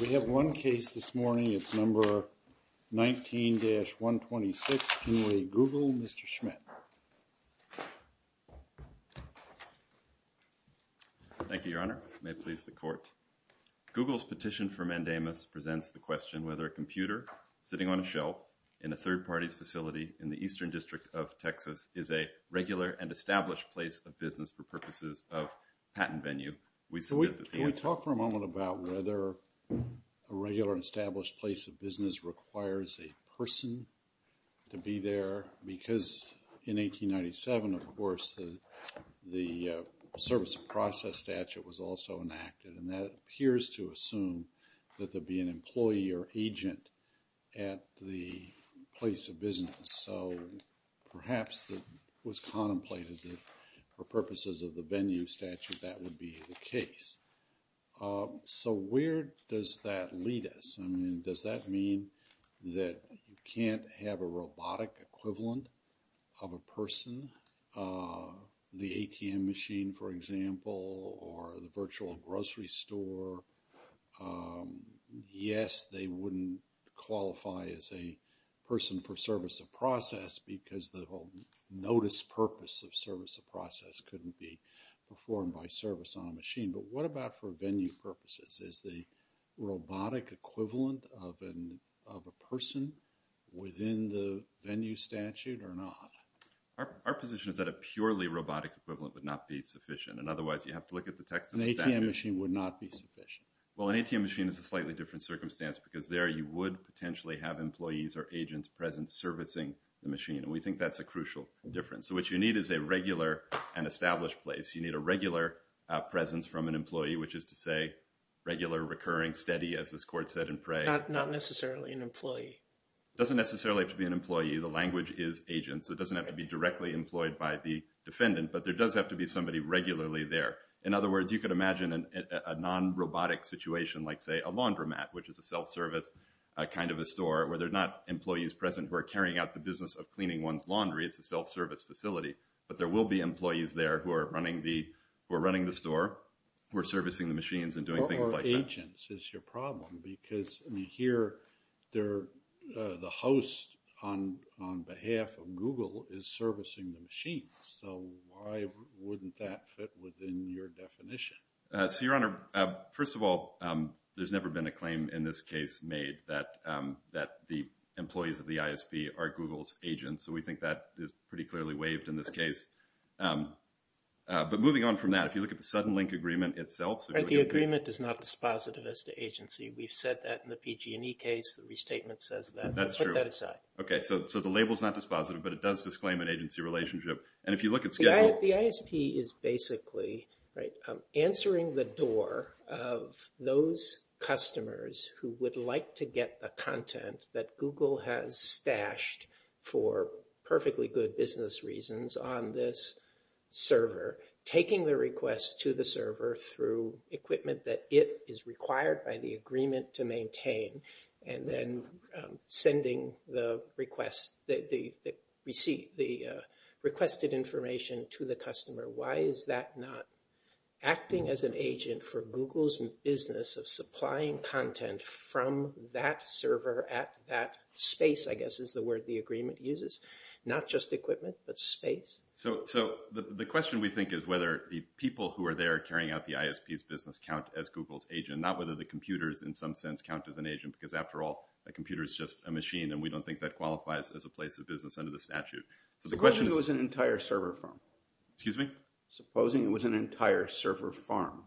We have one case this morning. It's number 19-126. Can we Google Mr. Schmidt? Thank you, Your Honor. May it please the Court. Google's petition for mandamus presents the question whether a computer sitting on a shelf in a third party's facility in the Eastern District of Texas is a regular and established place of business for purposes of patent venue We talked for a moment about whether a regular and established place of business requires a person to be there because in 1897, of course, the service of process statute was also enacted and that appears to assume that there'd be an employee or agent at the place of business. So that's the case. So where does that lead us? I mean, does that mean that you can't have a robotic equivalent of a person? The ATM machine, for example, or the virtual grocery store? Yes, they wouldn't qualify as a person for service of process because the whole notice purpose of service on a machine. But what about for venue purposes? Is the robotic equivalent of a person within the venue statute or not? Our position is that a purely robotic equivalent would not be sufficient and otherwise you have to look at the text of the statute. An ATM machine would not be sufficient. Well, an ATM machine is a slightly different circumstance because there you would potentially have employees or agents present servicing the machine and we think that's a presence from an employee, which is to say, regular, recurring, steady, as this court said in Prey. Not necessarily an employee. It doesn't necessarily have to be an employee. The language is agent, so it doesn't have to be directly employed by the defendant, but there does have to be somebody regularly there. In other words, you could imagine a non-robotic situation like, say, a laundromat, which is a self-service kind of a store where there's not employees present who are carrying out the business of cleaning one's laundry. It's a self-service facility, but there will be employees there who are running the store, who are servicing the machines and doing things like that. Or agents is your problem because here the host on behalf of Google is servicing the machines, so why wouldn't that fit within your definition? So, Your Honor, first of all, there's never been a claim in this case made that the employees of the ISP are Google's agents, so we think that is pretty clearly waived in this case. But moving on from that, if you look at the Suddenlink agreement itself... Right, the agreement is not dispositive as to agency. We've said that in the PG&E case. The restatement says that, so let's put that aside. Okay, so the label's not dispositive, but it does disclaim an agency relationship. And if you look at schedule... The ISP is basically, right, answering the door of those customers who would like to get the perfectly good business reasons on this server, taking the request to the server through equipment that it is required by the agreement to maintain, and then sending the requested information to the customer. Why is that not acting as an agent for Google's business of supplying content from that server at that space, I guess, is the word the agreement uses. Not just equipment, but space. So the question we think is whether the people who are there carrying out the ISP's business count as Google's agent, not whether the computers, in some sense, count as an agent, because after all, a computer is just a machine, and we don't think that qualifies as a place of business under the statute. Supposing it was an entire server farm. Excuse me? Supposing it was an entire server farm,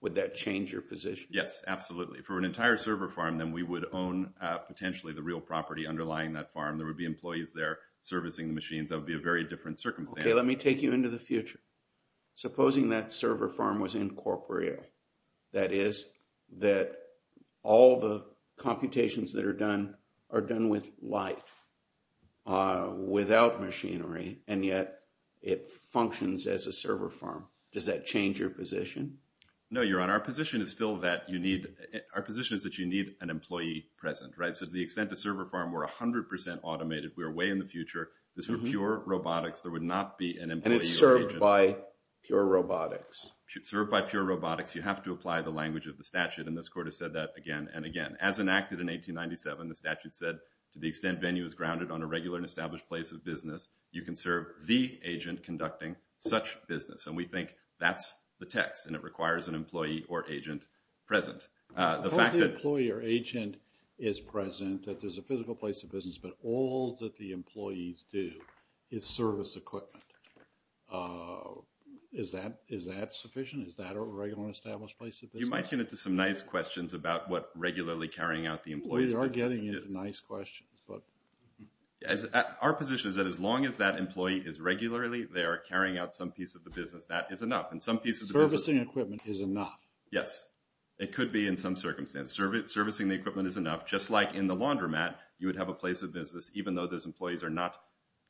would that change your position? Yes, absolutely. For an entire server farm, then we would own potentially the real property underlying that farm. There would be employees there servicing the machines. That would be a very different circumstance. Okay, let me take you into the future. Supposing that server farm was incorporeal. That is, that all the computations that are done are done with life, without machinery, and yet it functions as a server farm. Does that change your position? No, Your Honor. Our position is still that you need, our position is that you need an employee present, right? So to the extent the server farm were 100% automated, we are way in the future. This were pure robotics. There would not be an employee. And it's served by pure robotics. Served by pure robotics. You have to apply the language of the statute, and this Court has said that again and again. As enacted in 1897, the statute said, to the extent venue is grounded on a regular and established place of business, you can serve the agent conducting such business. And we think that's the text, and it requires an employee or agent present. Suppose the employee or agent is present, that there's a physical place of business, but all that the employees do is service equipment. Is that sufficient? Is that a regular established place of business? You might get into some nice questions about what regularly carrying out the employee's business is. We are getting into nice questions, but... Our position is that as long as that employee is regularly there, carrying out some piece of the business, that is enough. And some piece of the business... Servicing equipment is enough. Yes. It could be in some circumstance. Servicing the equipment is enough. Just like in the laundromat, you would have a place of business, even though those employees are not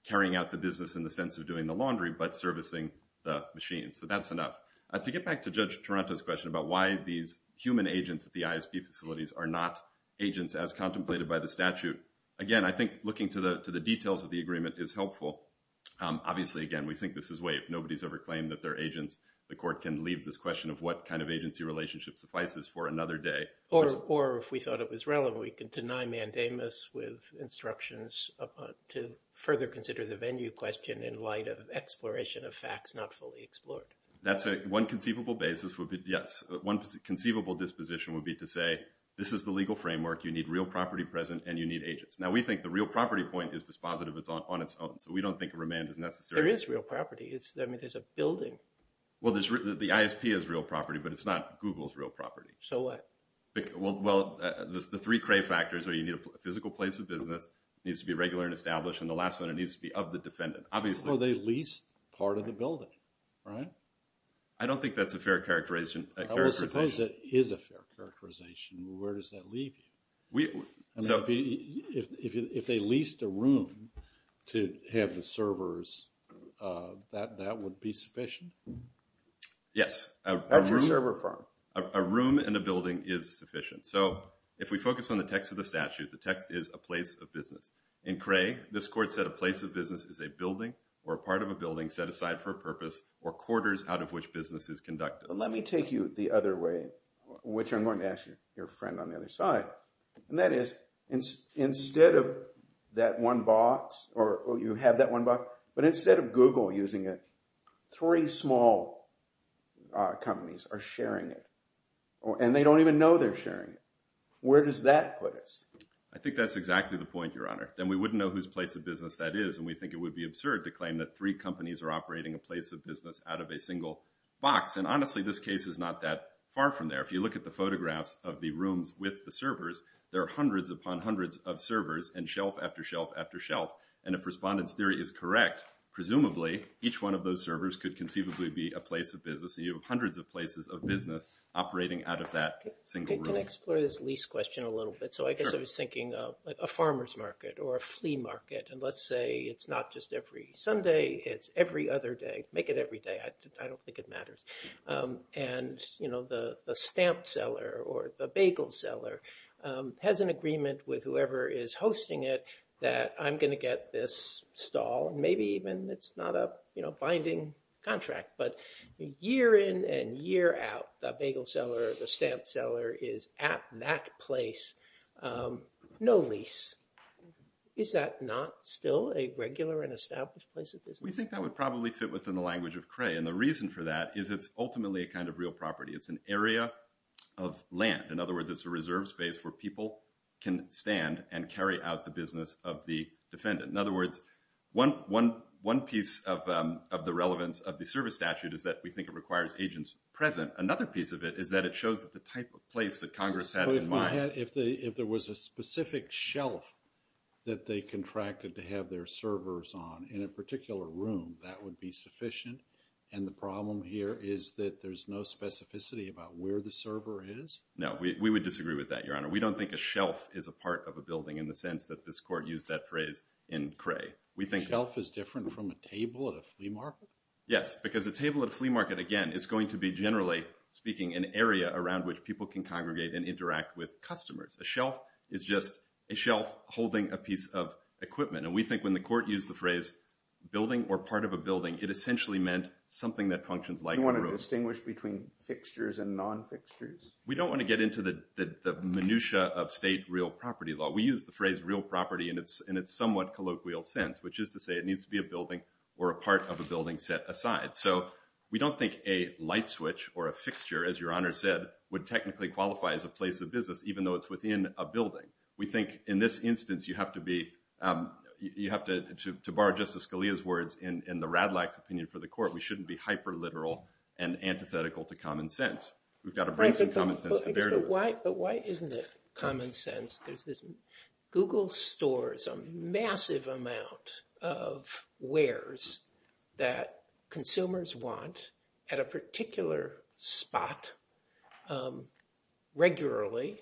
carrying out the business in the sense of doing the laundry, but servicing the machines. So that's enough. To get back to Judge Toronto's question about why these human agents at the ISP facilities are not agents as contemplated by the statute, again, I think looking to the details of the agreement is helpful. Obviously, again, we think this is way if nobody's ever claimed that they're agents, the court can leave this question of what kind of agency relationship suffices for another day. Or if we thought it was relevant, we could deny mandamus with instructions to further consider the venue question in light of exploration of facts not fully explored. That's one conceivable basis. Yes. One conceivable disposition would be to say, this is the legal framework. You need real property present and you need agents. Now, we think the real property point is dispositive. It's on its own. So we don't think remand is necessary. There is real property. I mean, there's a building. Well, the ISP is real property, but it's not Google's real property. So what? Well, the three cray factors are you need a physical place of business, needs to be regular and established. And the last one, it needs to be of the defendant. So they leased part of the building, right? I don't think that's a fair characterization. I would suppose it is a fair characterization. Where does that leave you? If they leased a room to have the servers, that would be sufficient? Yes. That's your server firm. A room in a building is sufficient. So if we focus on the text of the statute, the text is a place of business. In Cray, this court said a place of business is a building or part of a building set aside for a purpose or quarters out of which business is conducted. Let me take you the other way, which I'm going to ask your friend on the other side. And that is, instead of that one box or you have that one box, but instead of Google using it, three small companies are sharing it. And they don't even know they're sharing it. Where does that put us? I think that's exactly the point, Your Honor. And we wouldn't know whose place of business that is. And we think it would be absurd to claim that three companies are operating a place of business out of a single box. And honestly, this case is not that far from there. If you look at the photographs of the rooms with the servers, there are hundreds upon hundreds of servers and shelf after shelf after shelf. And if Respondent's theory is correct, presumably each one of those servers could conceivably be a place of business. And you have hundreds of places of business operating out of that single room. Can I explore this lease question a little bit? So I guess I was thinking of a farmer's market or a flea market. And let's say it's not just every Sunday, it's every other day. Make it every day. I don't think it matters. And the stamp seller or the bagel seller has an agreement with whoever is hosting it that I'm going to get this stall. And maybe even it's not a binding contract. But year in and year out, the bagel seller or the stamp seller is at that place. No lease. Is that not still a regular and established place of business? We think that would probably fit within the language of Cray. And the reason for that is it's ultimately a kind of real property. It's an area of land. In other words, it's a reserve space where people can stand and carry out the business of the defendant. In other words, one piece of relevance of the service statute is that we think it requires agents present. Another piece of it is that it shows the type of place that Congress had in mind. If there was a specific shelf that they contracted to have their servers on in a particular room, that would be sufficient. And the problem here is that there's no specificity about where the server is. No, we would disagree with that, Your Honor. We don't think a shelf is a part of a building in the sense that this court used that phrase in Cray. We think- From a table at a flea market? Yes, because a table at a flea market, again, is going to be generally speaking an area around which people can congregate and interact with customers. A shelf is just a shelf holding a piece of equipment. And we think when the court used the phrase building or part of a building, it essentially meant something that functions like a room. You want to distinguish between fixtures and non-fixtures? We don't want to get into the minutiae of state real property law. We use the phrase property in its somewhat colloquial sense, which is to say it needs to be a building or a part of a building set aside. So we don't think a light switch or a fixture, as Your Honor said, would technically qualify as a place of business, even though it's within a building. We think in this instance, you have to be, you have to, to borrow Justice Scalia's words in the Radlach's opinion for the court, we shouldn't be hyper-literal and antithetical to common sense. We've got to bring some common sense to bear to us. But why isn't it common sense? Google stores a massive amount of wares that consumers want at a particular spot regularly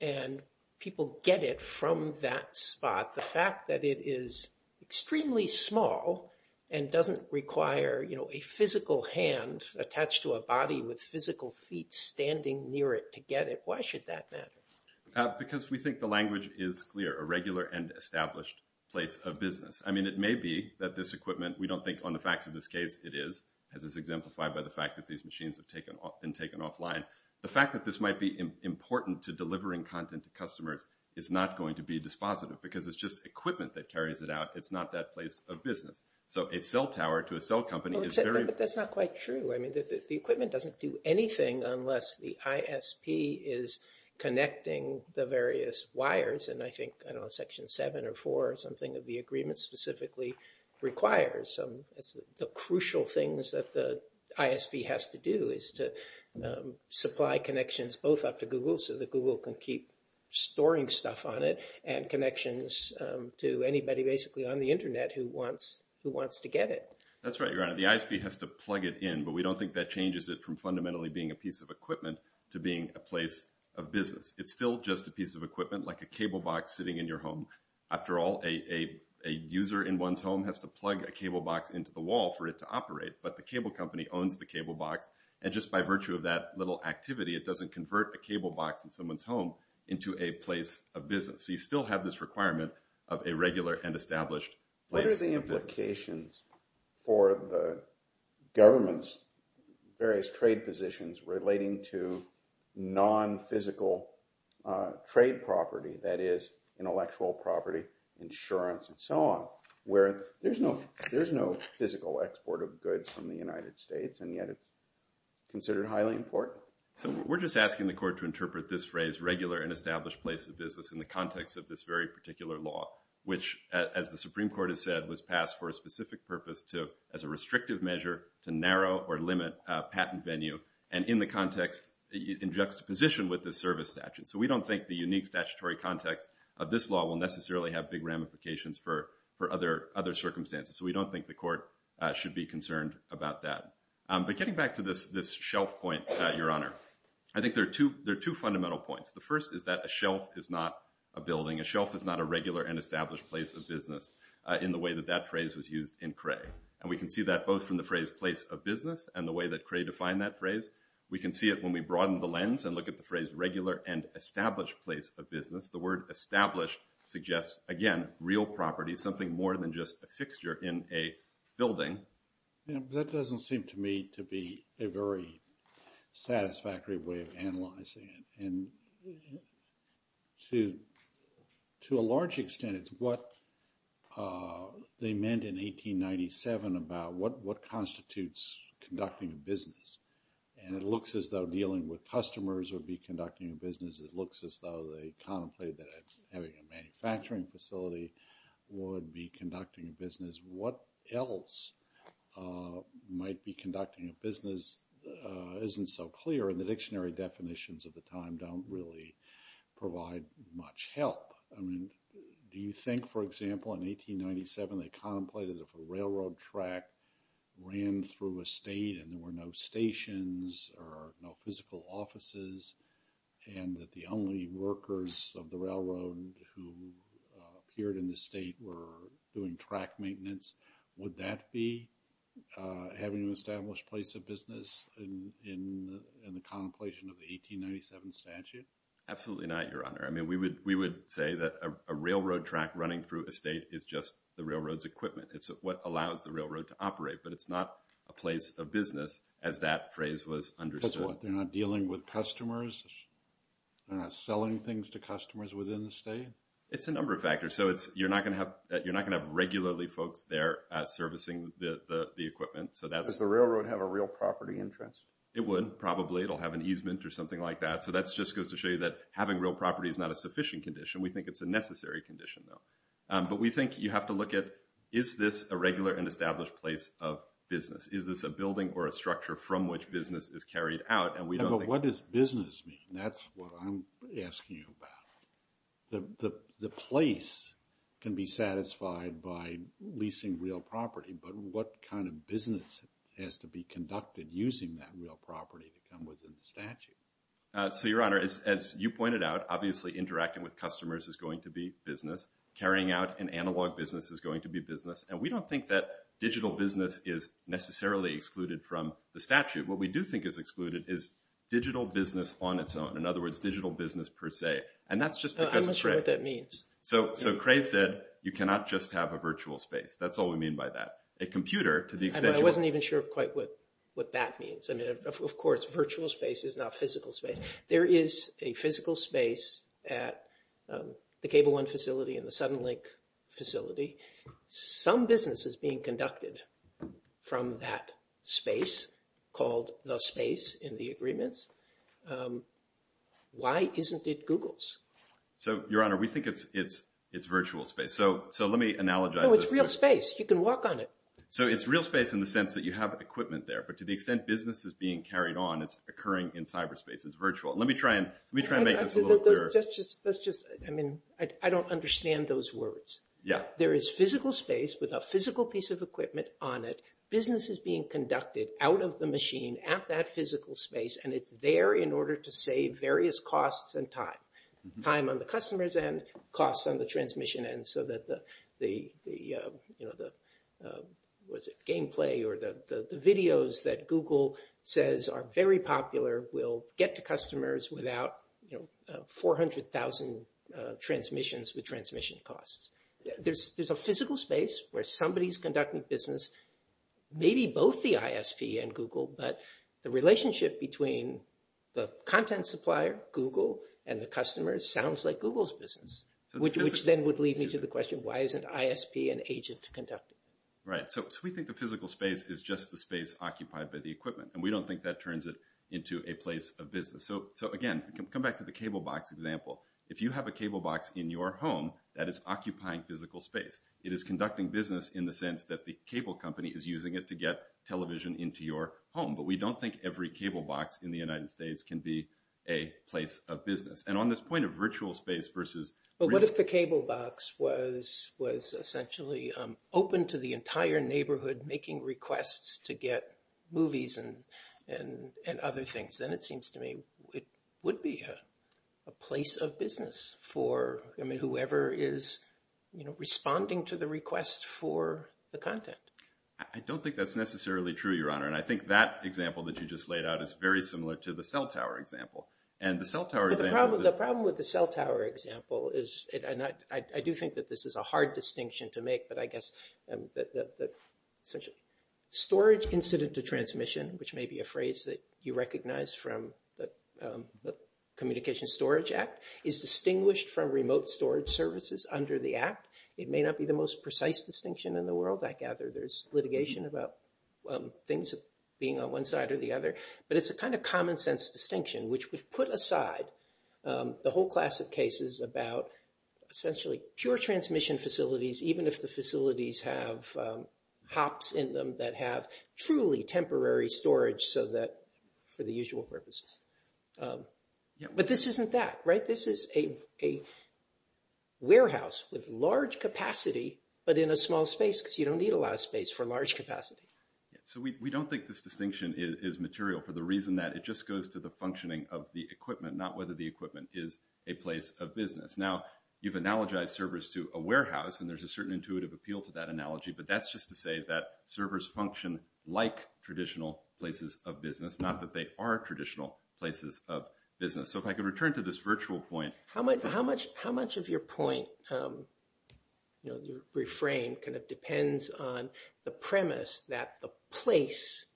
and people get it from that spot. The fact that it is extremely small and doesn't require a physical hand attached to a body with physical feet standing near it to get it, why should that matter? Because we think the language is clear, a regular and established place of business. I mean, it may be that this equipment, we don't think on the facts of this case it is, as is exemplified by the fact that these machines have been taken offline. The fact that this might be important to delivering content to customers is not going to be dispositive because it's just equipment that carries it out. It's not that place of business. So a cell tower to a cell ISP is connecting the various wires and I think, I don't know, Section 7 or 4 or something of the agreement specifically requires the crucial things that the ISP has to do is to supply connections both up to Google so that Google can keep storing stuff on it and connections to anybody basically on the internet who wants to get it. That's right, Your Honor. The ISP has to plug it in but we don't think that changes it from fundamentally being a piece of equipment to being a place of business. It's still just a piece of equipment like a cable box sitting in your home. After all, a user in one's home has to plug a cable box into the wall for it to operate but the cable company owns the cable box and just by virtue of that little activity, it doesn't convert a cable box in someone's home into a place of business. So you still have this requirement of a regular and established place. What are the implications for the government's various trade positions relating to non-physical trade property that is intellectual property, insurance and so on where there's no physical export of goods from the United States and yet it's considered highly important? So we're just asking the court to interpret this phrase regular and established place of business in the context of this very particular law which, as the Supreme Court has said, was passed for a specific purpose as a restrictive measure to narrow or limit a patent venue and in the context in juxtaposition with the service statute. So we don't think the unique statutory context of this law will necessarily have big ramifications for other circumstances. So we don't think the court should be concerned about that. But getting back to this shelf point, Your Honor, I think there are two fundamental points. The first is that a shelf is not a building. A shelf is not a regular and established place of business in the way that that phrase was used in Cray. And we can see that both from the phrase place of business and the way that Cray defined that phrase. We can see it when we broaden the lens and look at the phrase regular and established place of business. The word established suggests, again, real property, something more than just a fixture in a building. That doesn't seem to me to be a very satisfactory way of analyzing it. And to a large extent, it's what they meant in 1897 about what constitutes conducting a business. And it looks as though dealing with customers would be conducting a business. It looks as though they contemplated that having a manufacturing facility would be conducting a business. What else might be conducting a business isn't so clear. And the dictionary definitions of the time don't really provide much help. I mean, do you think, for example, in 1897, they contemplated if a railroad track ran through a state and there were no stations or no physical offices and that the only workers of the railroad who appeared in the state were doing track maintenance, would that be having an established place of business in the contemplation of the 1897 statute? Absolutely not, Your Honor. I mean, we would say that a railroad track running through a state is just the railroad's equipment. It's what allows the railroad to operate. But it's not a place of business as that phrase was understood. That's what? They're not dealing with customers? They're not selling things to customers within the state? It's a number of factors. So you're not going to have regularly folks there servicing the equipment. Does the railroad have a real property interest? It would, probably. It'll have an easement or something like that. So that just goes to show you that having real property is not a sufficient condition. We think it's a necessary condition, though. But we think you have to look at is this a regular and is this a building or a structure from which business is carried out? But what does business mean? That's what I'm asking you about. The place can be satisfied by leasing real property, but what kind of business has to be conducted using that real property to come within the statute? So, Your Honor, as you pointed out, obviously interacting with customers is going to be business. Carrying out an analog business is going to be business. And we don't think that necessarily excluded from the statute. What we do think is excluded is digital business on its own. In other words, digital business per se. And that's just because of Cray. I'm not sure what that means. So Cray said you cannot just have a virtual space. That's all we mean by that. A computer, to the extent you want. I wasn't even sure quite what that means. Of course, virtual space is not physical space. There is a physical space at the Cable 1 facility and the Suddenlink facility. Some business is being conducted from that space called the space in the agreements. Why isn't it Google's? So, Your Honor, we think it's virtual space. So let me analogize this. No, it's real space. You can walk on it. So it's real space in the sense that you have equipment there. But to the extent business is being carried on, it's occurring in cyberspace. It's virtual. Let me try and make this a little clearer. That's just, I mean, I don't understand those words. Yeah. There is physical space with a physical piece of equipment on it. Business is being conducted out of the machine at that physical space. And it's there in order to save various costs and time. Time on the customer's end, costs on the transmission end. So that the, you know, was it gameplay or the videos that Google says are very popular will get to customers without, you know, 400,000 transmissions with transmission costs. There's a physical space where somebody is conducting business, maybe both the ISP and Google, but the relationship between the content supplier, Google, and the customers sounds like Google's business, which then would lead me to the question, why isn't ISP and agent conducting? Right. So we think the physical space is just the space occupied by the equipment. And we don't think that turns it into a place of business. So again, come back to the cable box example. If you have a cable box in your home, that is occupying physical space. It is conducting business in the sense that the cable company is using it to get television into your home. But we don't think every cable box in the United States can be a place of business. And on this point of virtual space versus- But what if the cable box was essentially open to the entire neighborhood making requests to get movies and other things? Then it seems to me it would be a place of business for, I mean, whoever is, you know, responding to the request for the content. I don't think that's necessarily true, Your Honor. And I think that example that you just laid out is very similar to the cell tower example. And the cell tower example- The problem with the cell tower example is, and I do think that this is a hard distinction to make, but I guess that essentially storage incident to transmission, which may be a phrase that you recognize from the Communications Storage Act, is distinguished from remote storage services under the Act. It may not be the most precise distinction in the world, I gather. There's litigation about things being on one side or the other. But it's a kind of common sense distinction, which would put aside the whole class of cases about essentially pure transmission facilities, even if the facilities have hops in them that have truly temporary storage so that, for the usual purposes. But this isn't that, right? This is a warehouse with large capacity, but in a small space because you don't need a lot of space for large capacity. So we don't think this distinction is material for the reason that it just goes to the functioning of the equipment, not whether the equipment is a place of business. Now, you've analogized servers to a warehouse, and there's a certain intuitive appeal to that analogy, but that's just to say that servers function like traditional places of business, not that they are traditional places of business. So if I could return to this virtual point. How much of your point, you know, your refrain kind of depends on the premise that the place,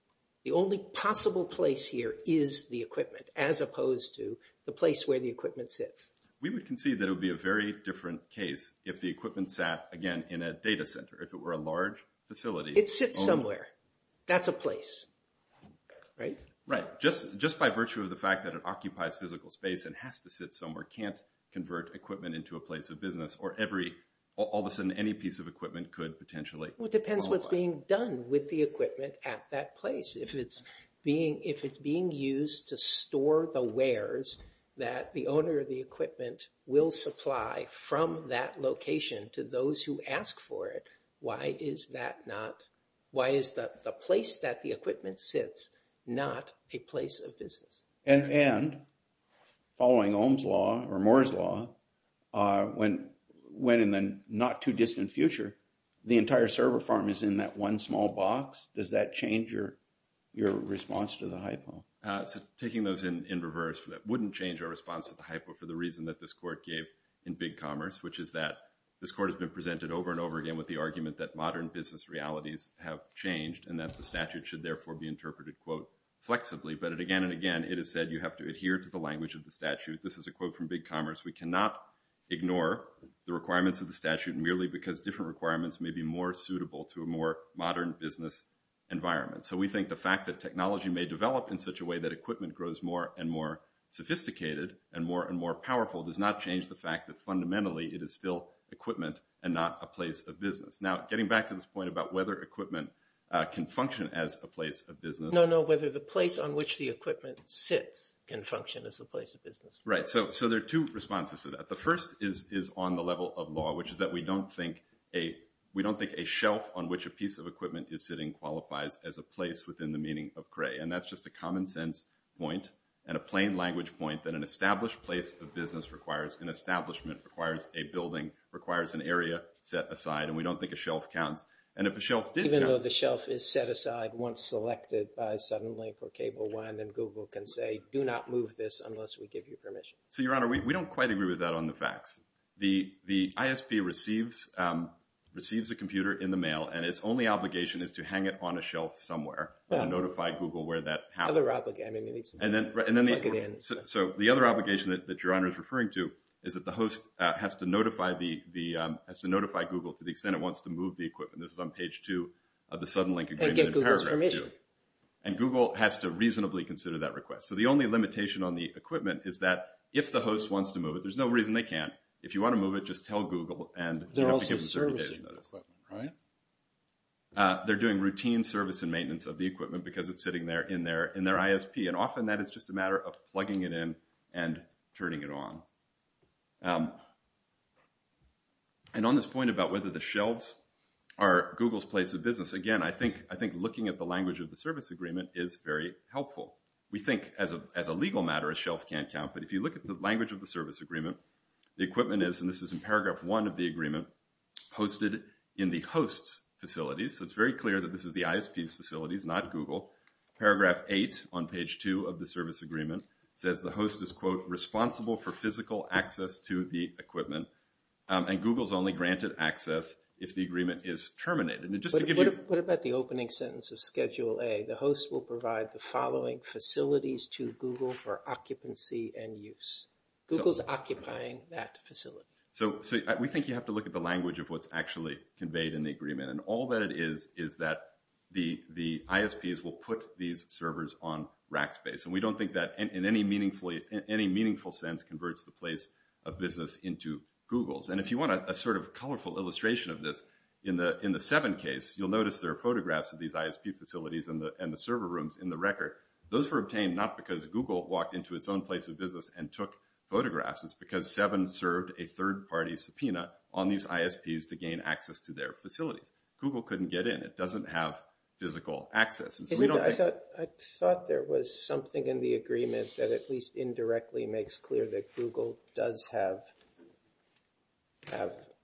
the only possible place here is the equipment, as opposed to the place where the equipment sits. We would concede that a very different case if the equipment sat, again, in a data center, if it were a large facility. It sits somewhere. That's a place, right? Right. Just by virtue of the fact that it occupies physical space and has to sit somewhere, can't convert equipment into a place of business, or every, all of a sudden, any piece of equipment could potentially. Well, it depends what's being done with the equipment at that place. If it's being used to store the wares that the owner of the equipment will supply from that location to those who ask for it, why is that not, why is the place that the equipment sits not a place of business? And following Ohm's Law, or Moore's Law, when in the not too distant future, the entire So taking those in reverse, that wouldn't change our response to the hypo for the reason that this court gave in Big Commerce, which is that this court has been presented over and over again with the argument that modern business realities have changed and that the statute should therefore be interpreted, quote, flexibly. But again and again, it has said you have to adhere to the language of the statute. This is a quote from Big Commerce. We cannot ignore the requirements of the statute merely because different requirements may be more suitable to a more modern business environment. So we think the fact that technology may develop in such a way that equipment grows more and more sophisticated and more and more powerful does not change the fact that fundamentally it is still equipment and not a place of business. Now getting back to this point about whether equipment can function as a place of business. No, no. Whether the place on which the equipment sits can function as a place of business. Right. So there are two responses to that. The first is on the level of law, which is that we don't think a shelf on which a piece of equipment is sitting qualifies as a place within the meaning of CRAE. And that's just a common sense point and a plain language point that an established place of business requires an establishment, requires a building, requires an area set aside. And we don't think a shelf counts. And if a shelf did. Even though the shelf is set aside once selected by Suddenlink or CableOne and Google can say do not move this unless we give you permission. So, Your Honor, we don't quite agree with that on the facts. The ISP receives a computer in the mail and its only obligation is to hang it on a shelf somewhere and notify Google where that happens. So the other obligation that Your Honor is referring to is that the host has to notify Google to the extent it wants to move the equipment. This is on page two of the Suddenlink agreement. And get Google's permission. And Google has to reasonably consider that request. So the only limitation on the equipment is that if the host wants to move it, there's no reason they can't. If you want to move it, just tell Google. They're also servicing the equipment, right? They're doing routine service and maintenance of the equipment because it's sitting there in their ISP. And often that is just a matter of plugging it in and turning it on. And on this point about whether the shelves are Google's place of business, again, I think looking at the language of the service agreement is very helpful. We think as a legal matter, a shelf can't count. But if you look at the language of the service agreement, the equipment is, and this is in paragraph one of the agreement, hosted in the host's facilities. So it's very clear that this is the ISP's facilities, not Google. Paragraph eight on page two of the service agreement says the host is, quote, responsible for physical access to the equipment. And Google's only granted access if the agreement is terminated. And just to give you- What about the opening sentence of Schedule A? The host will provide the following facilities to Google for occupancy and use. Google's occupying that facility. So we think you have to look at the language of what's actually conveyed in the agreement. And all that it is, is that the ISPs will put these servers on rack space. And we don't think that in any meaningful sense converts the place of business into Google's. And if you want a sort of colorful illustration of this, in the seven case, you'll notice there are photographs of ISP facilities and the server rooms in the record. Those were obtained not because Google walked into its own place of business and took photographs. It's because seven served a third party subpoena on these ISPs to gain access to their facilities. Google couldn't get in. It doesn't have physical access. And so we don't- I thought there was something in the agreement that at least indirectly makes clear that Google does have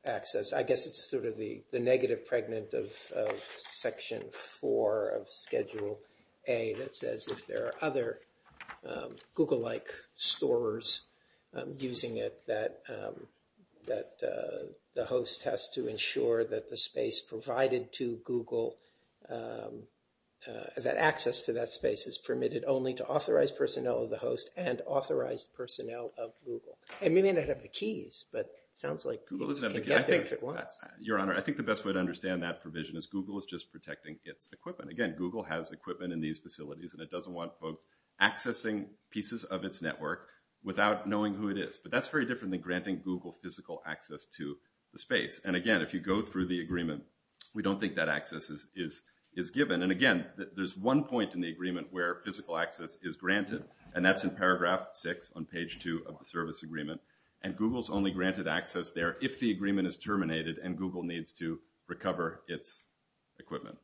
access. I guess it's sort of the negative pregnant of Section 4 of Schedule A that says if there are other Google-like storers using it, that the host has to ensure that the space provided to Google, that access to that space is permitted only to authorized personnel of the host and authorized personnel of Google. And we may not have the keys, but it sounds like- Google doesn't have the keys. Your Honor, I think the best way to understand that provision is Google is just protecting its equipment. Again, Google has equipment in these facilities and it doesn't want folks accessing pieces of its network without knowing who it is. But that's very different than granting Google physical access to the space. And again, if you go through the agreement, we don't think that access is given. And again, there's one point in the agreement where physical access is granted, and that's in paragraph 6 on page 2 of the service agreement. And Google's only granted access there if the agreement is terminated and Google needs to recover its equipment.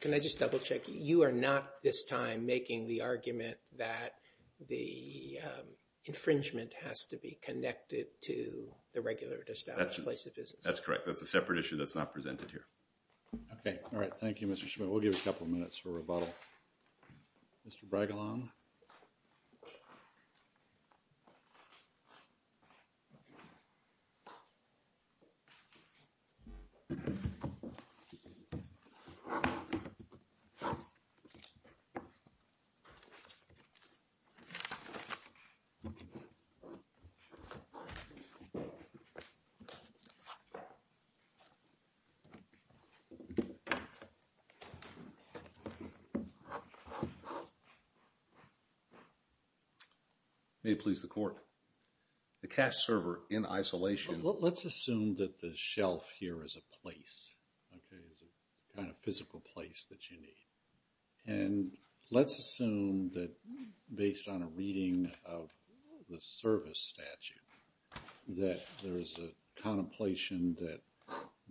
Can I just double check? You are not this time making the argument that the infringement has to be connected to the regular established place of business. That's correct. That's a separate issue that's not presented here. Okay. All right. Thank you, Mr. Schmidt. We'll give a couple of minutes for rebuttal. Mr. Bragalon? May it please the court. The cash server in isolation. Let's assume that the shelf here is a place. Okay. It's a kind of physical place that you need. And let's assume that based on a reading of the service statute that there is a contemplation that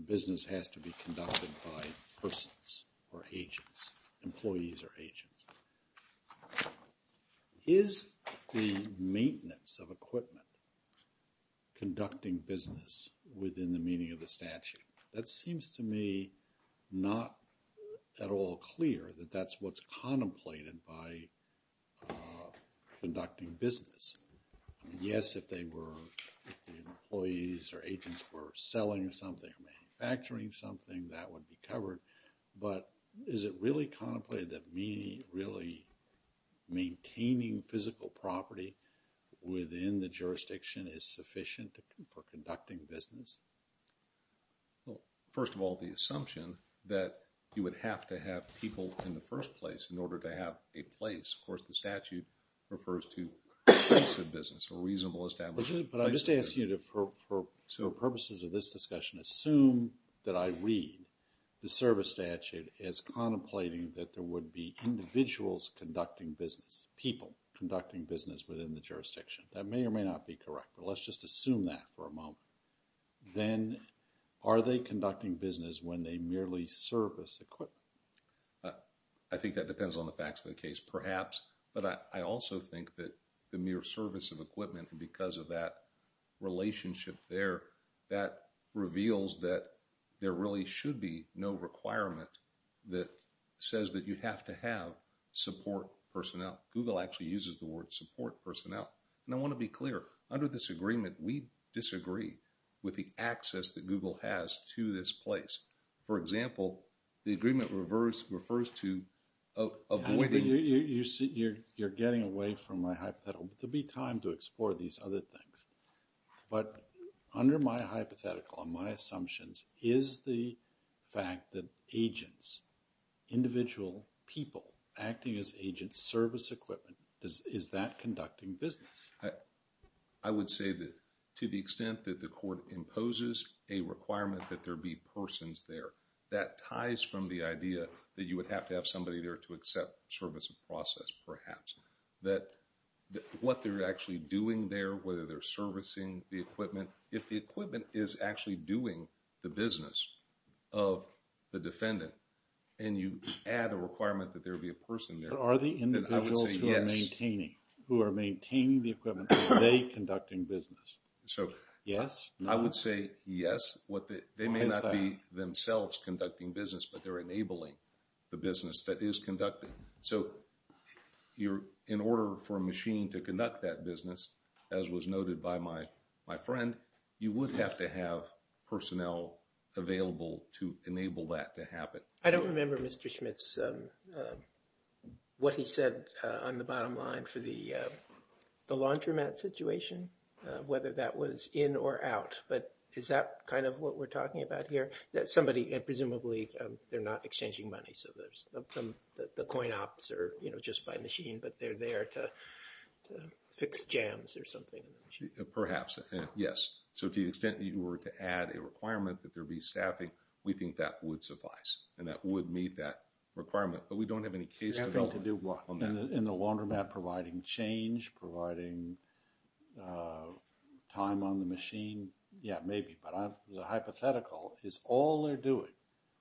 business has to be conducted by persons or agents, employees or agents. Is the maintenance of equipment conducting business within the meaning of the statute? That seems to me not at all clear that that's what's contemplated by conducting business. Yes, if they were employees or agents were selling something, manufacturing something, that would be covered. But is it really contemplated that meaning really maintaining physical property within the jurisdiction is sufficient for conducting business? Well, first of all, the assumption that you would have to have people in the first place in order to have a place. Of course, the statute refers to expensive business or reasonable establishment. But I'm just asking you to, for purposes of this discussion, assume that I read the service statute as contemplating that there would be individuals conducting business, people conducting business within the jurisdiction. That may or may not be correct, but let's just assume that for a moment. Then are they conducting business when they merely service equipment? I think that depends on the facts of the case, perhaps. But I also think that the mere service of equipment and because of that relationship there, that reveals that there really should be no requirement that says that you have to have support personnel. Google actually uses the word support personnel. And I want to be clear, under this agreement, we disagree with the access that Google has to this place. For example, the agreement refers to avoiding... You're getting away from my hypothetical, but there'll be time to explore these other things. But under my hypothetical and my assumptions, is the fact that agents, individual people acting as agents, service equipment, is that conducting business? I would say that to the extent that the court imposes a requirement that there be persons there, that ties from the idea that you would have to have service process, perhaps. That what they're actually doing there, whether they're servicing the equipment, if the equipment is actually doing the business of the defendant and you add a requirement that there be a person there, then I would say yes. But are the individuals who are maintaining the equipment, are they conducting business? So, I would say yes. They may not be themselves conducting business, but they're enabling the business that is conducting. So, in order for a machine to conduct that business, as was noted by my friend, you would have to have personnel available to enable that to happen. I don't remember, Mr. Schmitz, what he said on the bottom line for the laundromat situation, whether that was in or out. But is that kind of what we're talking about here? Somebody, presumably, they're not exchanging money. So, the coin ops are just by machine, but they're there to fix jams or something. Perhaps, yes. So, to the extent that you were to add a requirement that there be staffing, we think that would suffice and that would meet that requirement. But we don't have any case to do on that. In the laundromat providing change, providing time on the machine? Yeah, maybe. But the hypothetical is all they're doing,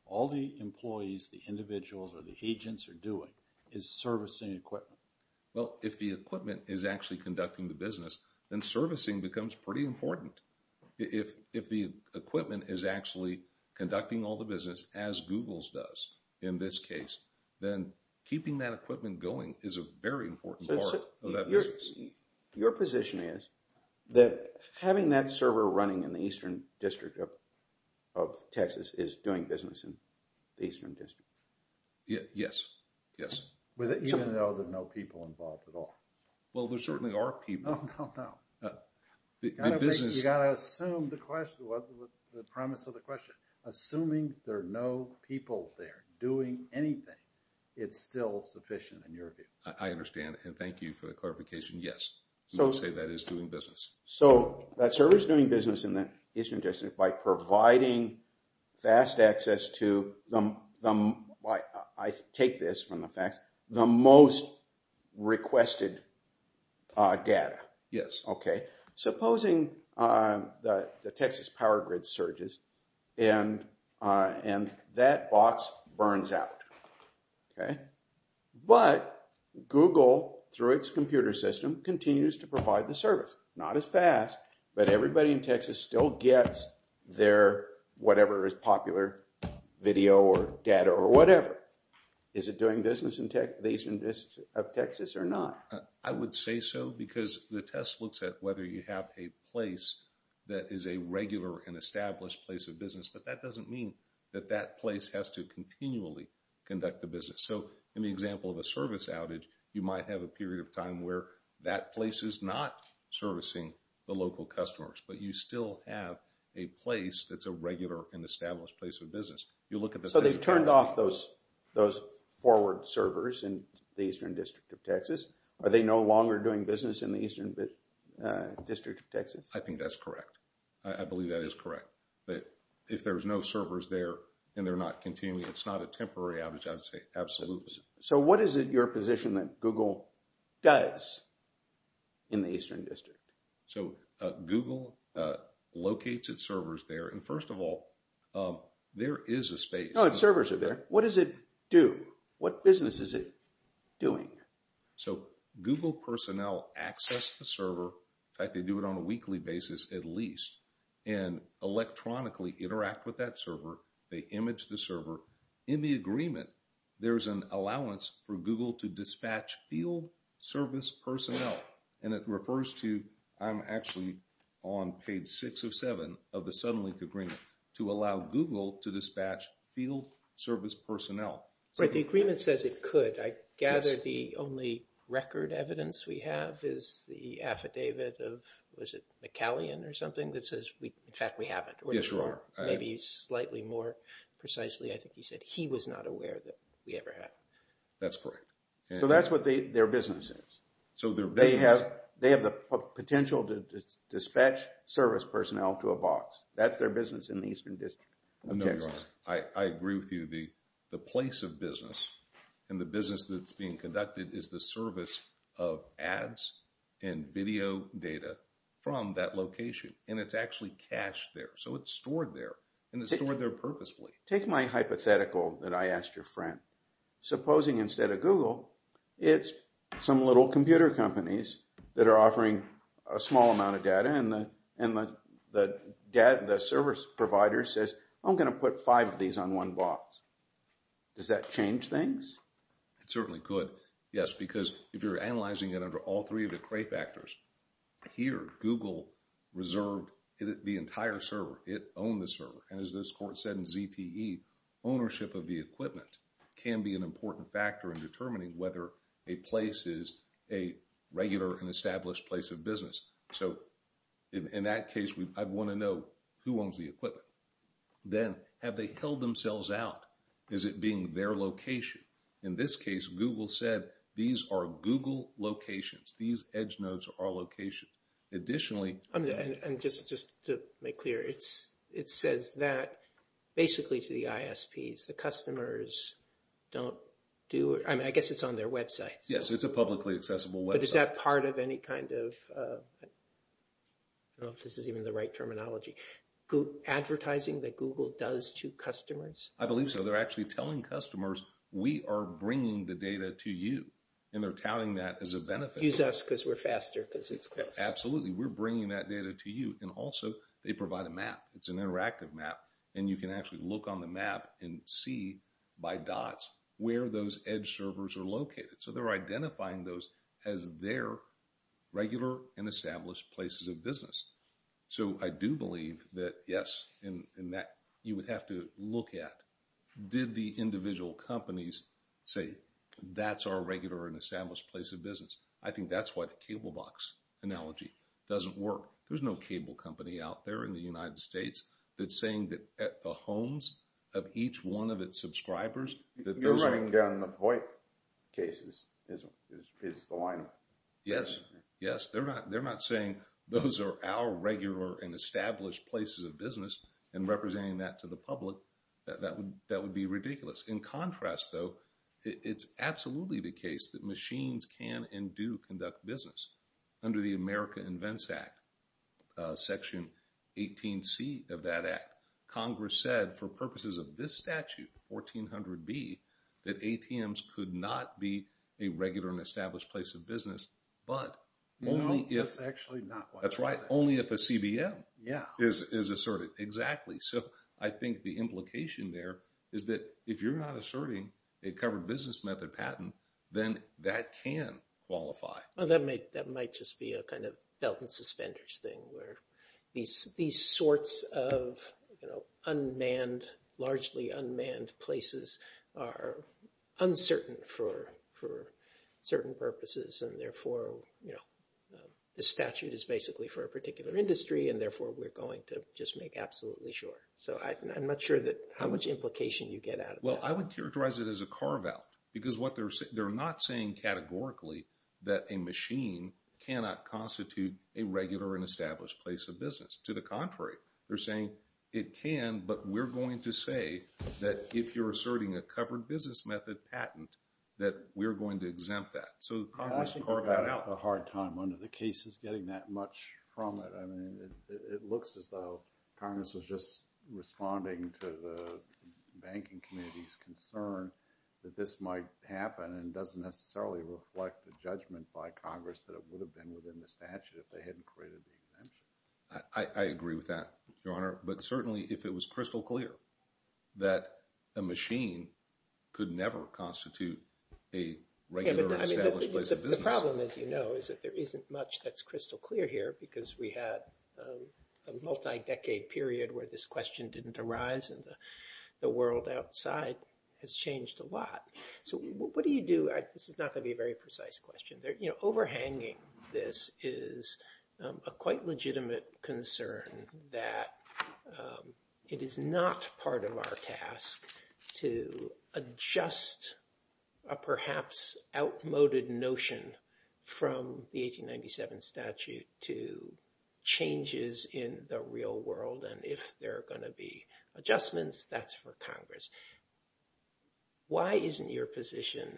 all the employees, the individuals, or the agents are doing is servicing equipment. Well, if the equipment is actually conducting the business, then servicing becomes pretty important. If the equipment is actually conducting all the business, as Google's does in this case, then keeping that equipment going is a very important part. Your position is that having that server running in the eastern district of Texas is doing business in the eastern district? Yes. Yes. Even though there are no people involved at all? Well, there certainly are people. No, no, no. You've got to assume the premise of the question. Assuming there are no people there doing anything, it's still sufficient in your view. I understand. And thank you for the clarification. Yes, I would say that is doing business. So that server's doing business in the eastern district by providing fast access to the, I take this from the facts, the most requested data. Yes. Okay. Supposing the Texas power grid surges and that box burns out. Okay. But Google, through its computer system, continues to provide the service. Not as fast, but everybody in Texas still gets their whatever is popular video or data or whatever. Is it doing business in the eastern district of Texas or not? I would say so because the test looks at whether you have a place that is a regular and established place of business, but that doesn't mean that that place has to continually conduct the business. So in the example of a service outage, you might have a period of time where that place is not servicing the local customers, but you still have a place that's a regular and established place of business. You look at the... So they've turned off those forward servers in the eastern district of Texas. Are they no longer doing business in the eastern district of Texas? I think that's correct. I believe that is correct, that if there's no servers there and they're not continuing, it's not a temporary outage, I would say absolutely. So what is it your position that Google does in the eastern district? So Google locates its servers there. And first of all, there is a space. No, it doesn't. What does it do? What business is it doing? So Google personnel access the server. In fact, they do it on a weekly basis at least and electronically interact with that server. They image the server. In the agreement, there's an allowance for Google to dispatch field service personnel. And it refers to... I'm actually on page six of seven of the Suddenlink agreement to allow Google to dispatch field service personnel. But the agreement says it could. I gather the only record evidence we have is the affidavit of, was it McCallion or something that says, in fact, we haven't. Or maybe slightly more precisely, I think he said he was not aware that we ever had. That's correct. So that's what their business is. They have the potential to dispatch service personnel to a box. That's their business in the eastern district. I know you're on it. I agree with you. The place of business and the business that's being conducted is the service of ads and video data from that location. And it's actually cached there. So it's stored there. And it's stored there purposefully. Take my hypothetical that I asked your friend. Supposing instead of Google, it's some little the service provider says, I'm going to put five of these on one box. Does that change things? It certainly could. Yes, because if you're analyzing it under all three of the gray factors, here, Google reserved the entire server. It owned the server. And as this court said in ZTE, ownership of the equipment can be an important factor in determining whether a place is a who owns the equipment. Then have they held themselves out? Is it being their location? In this case, Google said, these are Google locations. These edge nodes are locations. Additionally... And just to make clear, it says that basically to the ISPs, the customers don't do... I mean, I guess it's on their websites. Yes, it's a publicly accessible website. Is that part of any kind of... I don't know if this is even the right terminology. Advertising that Google does to customers? I believe so. They're actually telling customers, we are bringing the data to you. And they're touting that as a benefit. Use us because we're faster. Absolutely. We're bringing that data to you. And also, they provide a map. It's an interactive map. And you can actually look on the map and see by dots where those edge servers are located. So they're identifying those as their regular and established places of business. So I do believe that, yes, you would have to look at, did the individual companies say, that's our regular and established place of business? I think that's why the cable box analogy doesn't work. There's no cable company out there in the United States that's saying that the homes of each one of its subscribers... You're running down the VoIP cases is the line. Yes. Yes. They're not saying those are our regular and established places of business and representing that to the public. That would be ridiculous. In contrast, though, it's absolutely the case that machines can and do conduct business under the America Invents Act, Section 18C of that Act. Congress said for purposes of this statute, 1400B, that ATMs could not be a regular and established place of business, but only if... No, that's actually not what... That's right. Only if a CBM is asserted. Exactly. So I think the implication there is that if you're not asserting a covered business method patent, then that can qualify. Well, that might just be a kind of belt and suspenders thing where these sorts of largely unmanned places are uncertain for certain purposes. And therefore, the statute is basically for a particular industry, and therefore, we're going to just make absolutely sure. So I'm not sure how much implication you get out of that. Well, I would characterize it as a carve-out because they're not saying categorically that a machine cannot constitute a regular and established place of business. To the contrary, they're saying it can, but we're going to say that if you're asserting a covered business method patent, that we're going to exempt that. So Congress carved that out. I think we're having a hard time under the cases getting that much from it. I mean, it looks as though Congress was just responding to the banking community's concern that this might happen and doesn't necessarily reflect the judgment by Congress that it would have been within the statute if they hadn't created the exemption. I agree with that, Your Honor, but certainly if it was crystal clear that a machine could never constitute a regular established place of business. The problem, as you know, is that there isn't much that's crystal clear here because we had a multi-decade period where this question didn't arise and the world outside has changed a lot. So what do you do? This is not going to be a very precise question. Overhanging this is a quite legitimate concern that it is not part of our task to adjust a perhaps outmoded notion from the 1897 statute to changes in the real world. And if there are to be adjustments, that's for Congress. Why isn't your position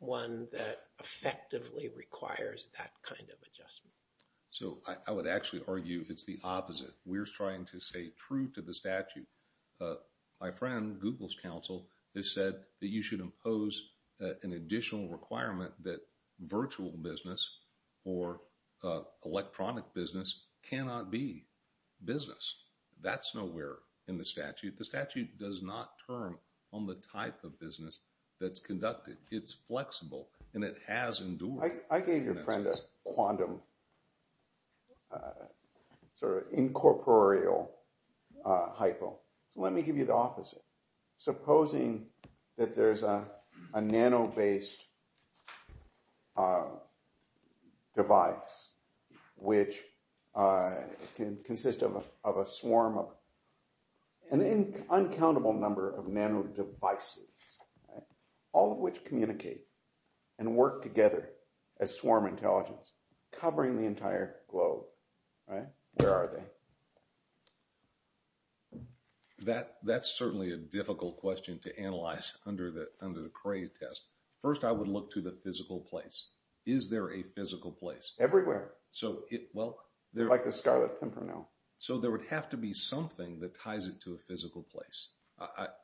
one that effectively requires that kind of adjustment? So I would actually argue it's the opposite. We're trying to stay true to the statute. My friend, Google's counsel, has said that you should impose an additional requirement that virtual business or electronic business cannot be business. That's nowhere in the statute. The statute does not term on the type of business that's conducted. It's flexible and it has endured. I gave your friend a quantum sort of incorporeal hypo. So let me give you the opposite. Supposing that there's a nano-based device which can consist of a swarm of an uncountable number of nano devices, all of which communicate and work together as swarm intelligence covering the entire globe. Where are they? That's certainly a difficult question to analyze under the Cray test. First, I would look to the physical place. Is there a physical place? Everywhere. Like the Scarlet Pimpernel. So there would have to be something that ties it to a physical place,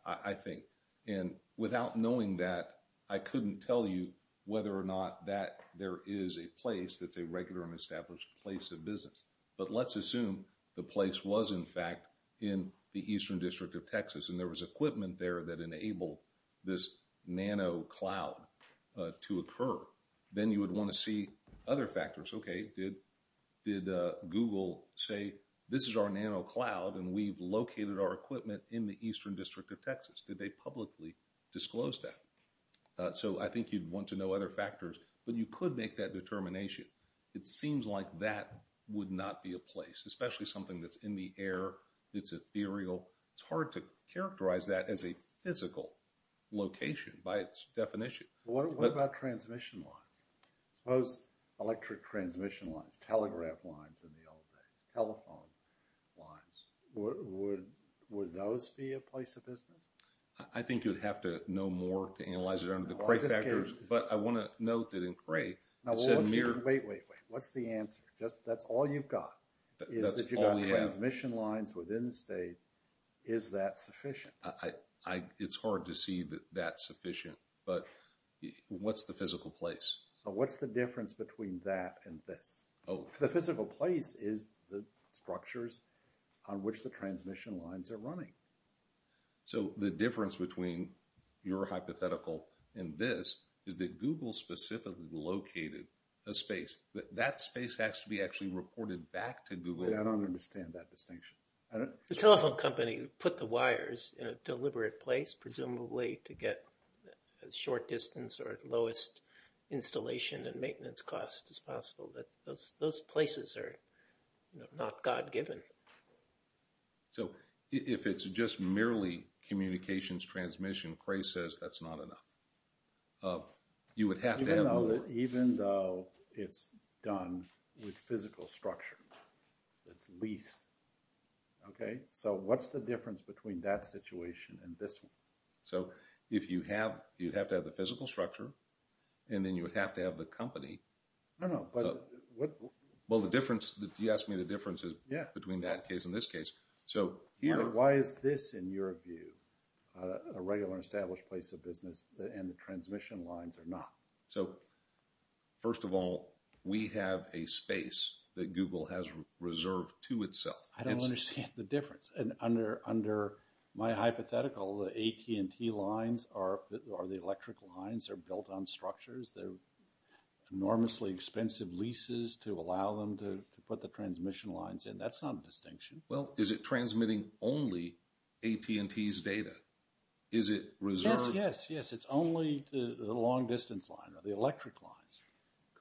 I think. And without knowing that, I couldn't tell you whether or not that there is a place that's a regular and established place of business. But let's assume the place was, in fact, in the Eastern District of Texas, and there was equipment there that enabled this nano cloud to occur. Then you would want to see other factors. Okay, did Google say, this is our nano cloud and we've located our equipment in the Eastern District of Texas? Did they publicly disclose that? So I think you'd want to know other factors, but you could make that determination. It seems like that would not be a place, especially something that's in the air, that's ethereal. It's hard to characterize that as a physical location by its definition. What about transmission lines? Suppose electric transmission lines, telegraph lines in the old days, telephone lines. Would those be a place of business? I think you'd have to know more to analyze it under the Cray factors, but I want to note that in Cray, it said mere... Wait, wait, wait. What's the answer? That's all you've got, is that you've got transmission lines within the state. Is that sufficient? It's hard to see that that's sufficient, but what's the physical place? What's the difference between that and this? The physical place is the structures on which the transmission lines are running. So the difference between your hypothetical and this is that Google specifically located a space. That space has to be actually reported back to Google. I don't understand that distinction. The telephone company put the wires in a deliberate place, presumably to get a short distance or lowest installation and maintenance cost as possible. Those places are not God-given. So if it's just merely communications transmission, Cray says that's not enough. You would have to have more. Even though it's done with physical structure, it's leased. Okay, so what's the difference between that situation and this one? So if you have, you'd have to have the physical structure, and then you would have to have the company. No, no, but what... Well, the difference, you asked me the differences between that case and this case. So here... Why is this, in your view, a regular established place of business and the transmission lines are not? So first of all, we have a space that Google has reserved to itself. I don't understand the difference. And under my hypothetical, the AT&T lines are the electric lines. They're built on structures. They're enormously expensive leases to allow them to put the transmission lines in. That's not a distinction. Well, is it transmitting only AT&T's data? Is it reserved? Yes, yes, yes. It's only the long distance line or the electric lines.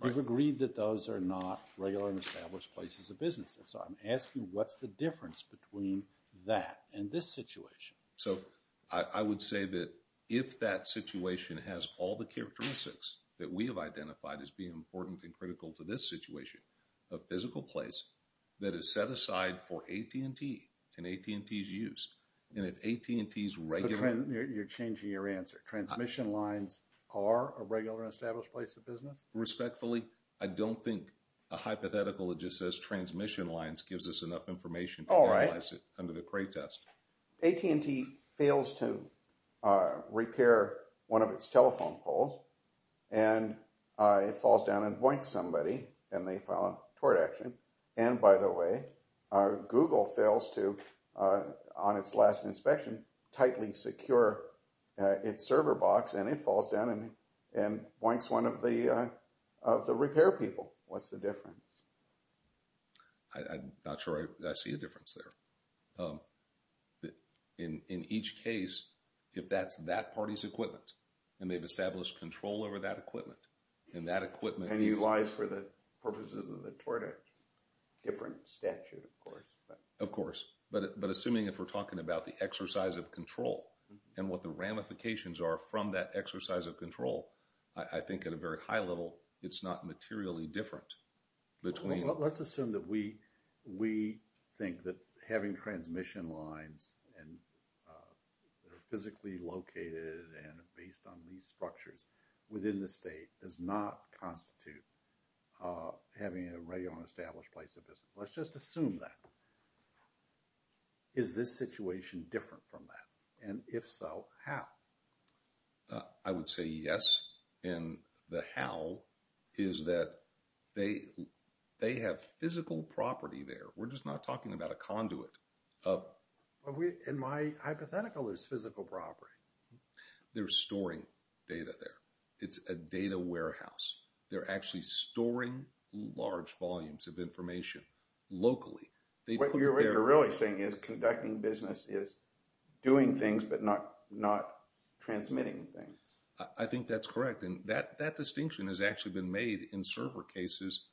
We've agreed that those are not regular and established places of business. So I'm asking what's the difference between that and this situation? So I would say that if that situation has all the characteristics that we have identified as being important and critical to this situation, a physical place that is set aside for AT&T and AT&T's use, and if AT&T's regular... You're changing your answer. Transmission lines are a regular and established place of business? Respectfully, I don't think a hypothetical that just says transmission lines gives us enough information to analyze it under the Cray test. AT&T fails to repair one of its telephone poles, and it falls down and boinks somebody, and they file a tort action. And by the way, Google fails to, on its last inspection, tightly secure its server box, and it falls down and boinks one of the repair people. What's the difference? I'm not sure I see a difference there. In each case, if that's that party's equipment, and they've established control over that equipment, and that equipment... And he lies for the purposes of the tort, a different statute, of course. Of course. But assuming if we're talking about the exercise of control and what the ramifications are from that exercise of control, I think at a very high level, it's not materially different. Between... Let's assume that we think that having transmission lines, and they're physically located and based on these structures within the state, does not constitute having a regular and established place of business. Let's just assume that. Is this situation different from that? And if so, how? I would say yes. And the how is that they have physical property there. We're just not talking about a conduit of... In my hypothetical, there's physical property. They're storing data there. It's a data warehouse. They're actually storing large volumes of information locally. They put it there... Transmitting things. I think that's correct. And that distinction has actually been made in server cases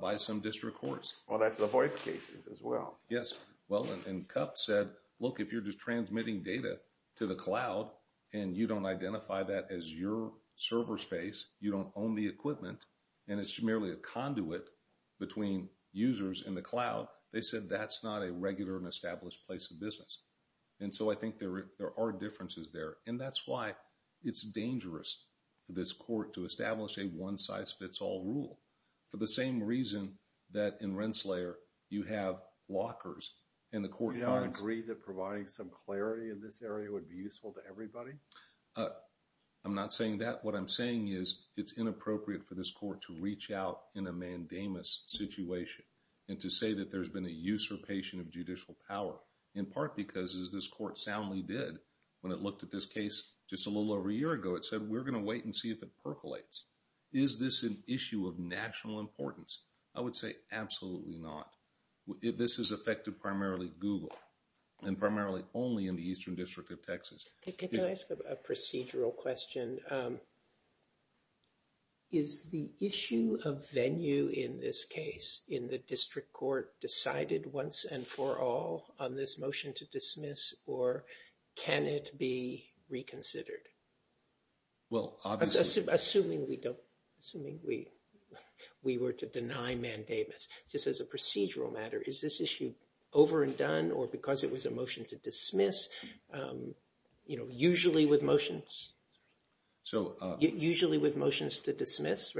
by some district courts. Well, that's the voice cases as well. Yes. Well, and CUP said, look, if you're just transmitting data to the cloud, and you don't identify that as your server space, you don't own the equipment, and it's merely a conduit between users and the cloud, they said that's not a regular and established place of business. And so, I think there are differences there. And that's why it's dangerous for this court to establish a one-size-fits-all rule for the same reason that in Rensselaer, you have lockers and the court finds... Do you not agree that providing some clarity in this area would be useful to everybody? I'm not saying that. What I'm saying is it's inappropriate for this court to reach out in a mandamus situation and to say that there's been a usurpation of judicial power, in part because, as this court soundly did, when it looked at this case just a little over a year ago, it said, we're going to wait and see if it percolates. Is this an issue of national importance? I would say absolutely not. This has affected primarily Google, and primarily only in the Eastern District of Texas. Can I ask a procedural question? Is the issue of venue in this case in the district court decided once and for all on this motion to dismiss, or can it be reconsidered? Well, obviously... Assuming we were to deny mandamus. Just as a procedural matter, is this issue over and done or because it was a motion to dismiss? Usually with motions to dismiss,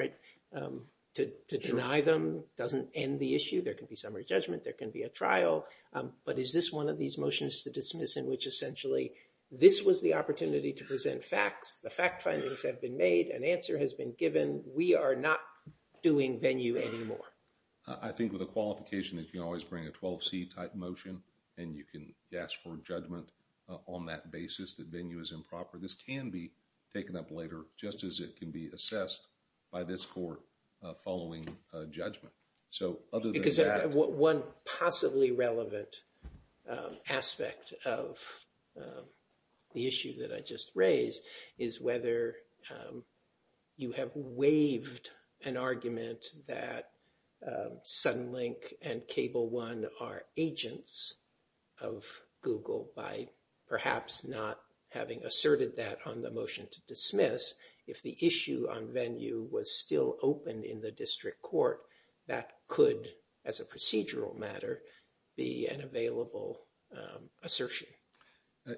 to deny them doesn't end the issue. There can be summary judgment, there can be a trial, but is this one of these motions to dismiss in which essentially this was the opportunity to present facts, the fact findings have been made, an answer has been given, we are not doing venue anymore? I think with a qualification that you can always bring a 12C type motion, and you can ask for judgment on that basis that venue is improper. This can be taken up later, just as it can be so other than that... Because one possibly relevant aspect of the issue that I just raised is whether you have waived an argument that Sunlink and Cable One are agents of Google by perhaps not having asserted that on the motion to dismiss. If the issue on venue was still open in the district court, that could, as a procedural matter, be an available assertion.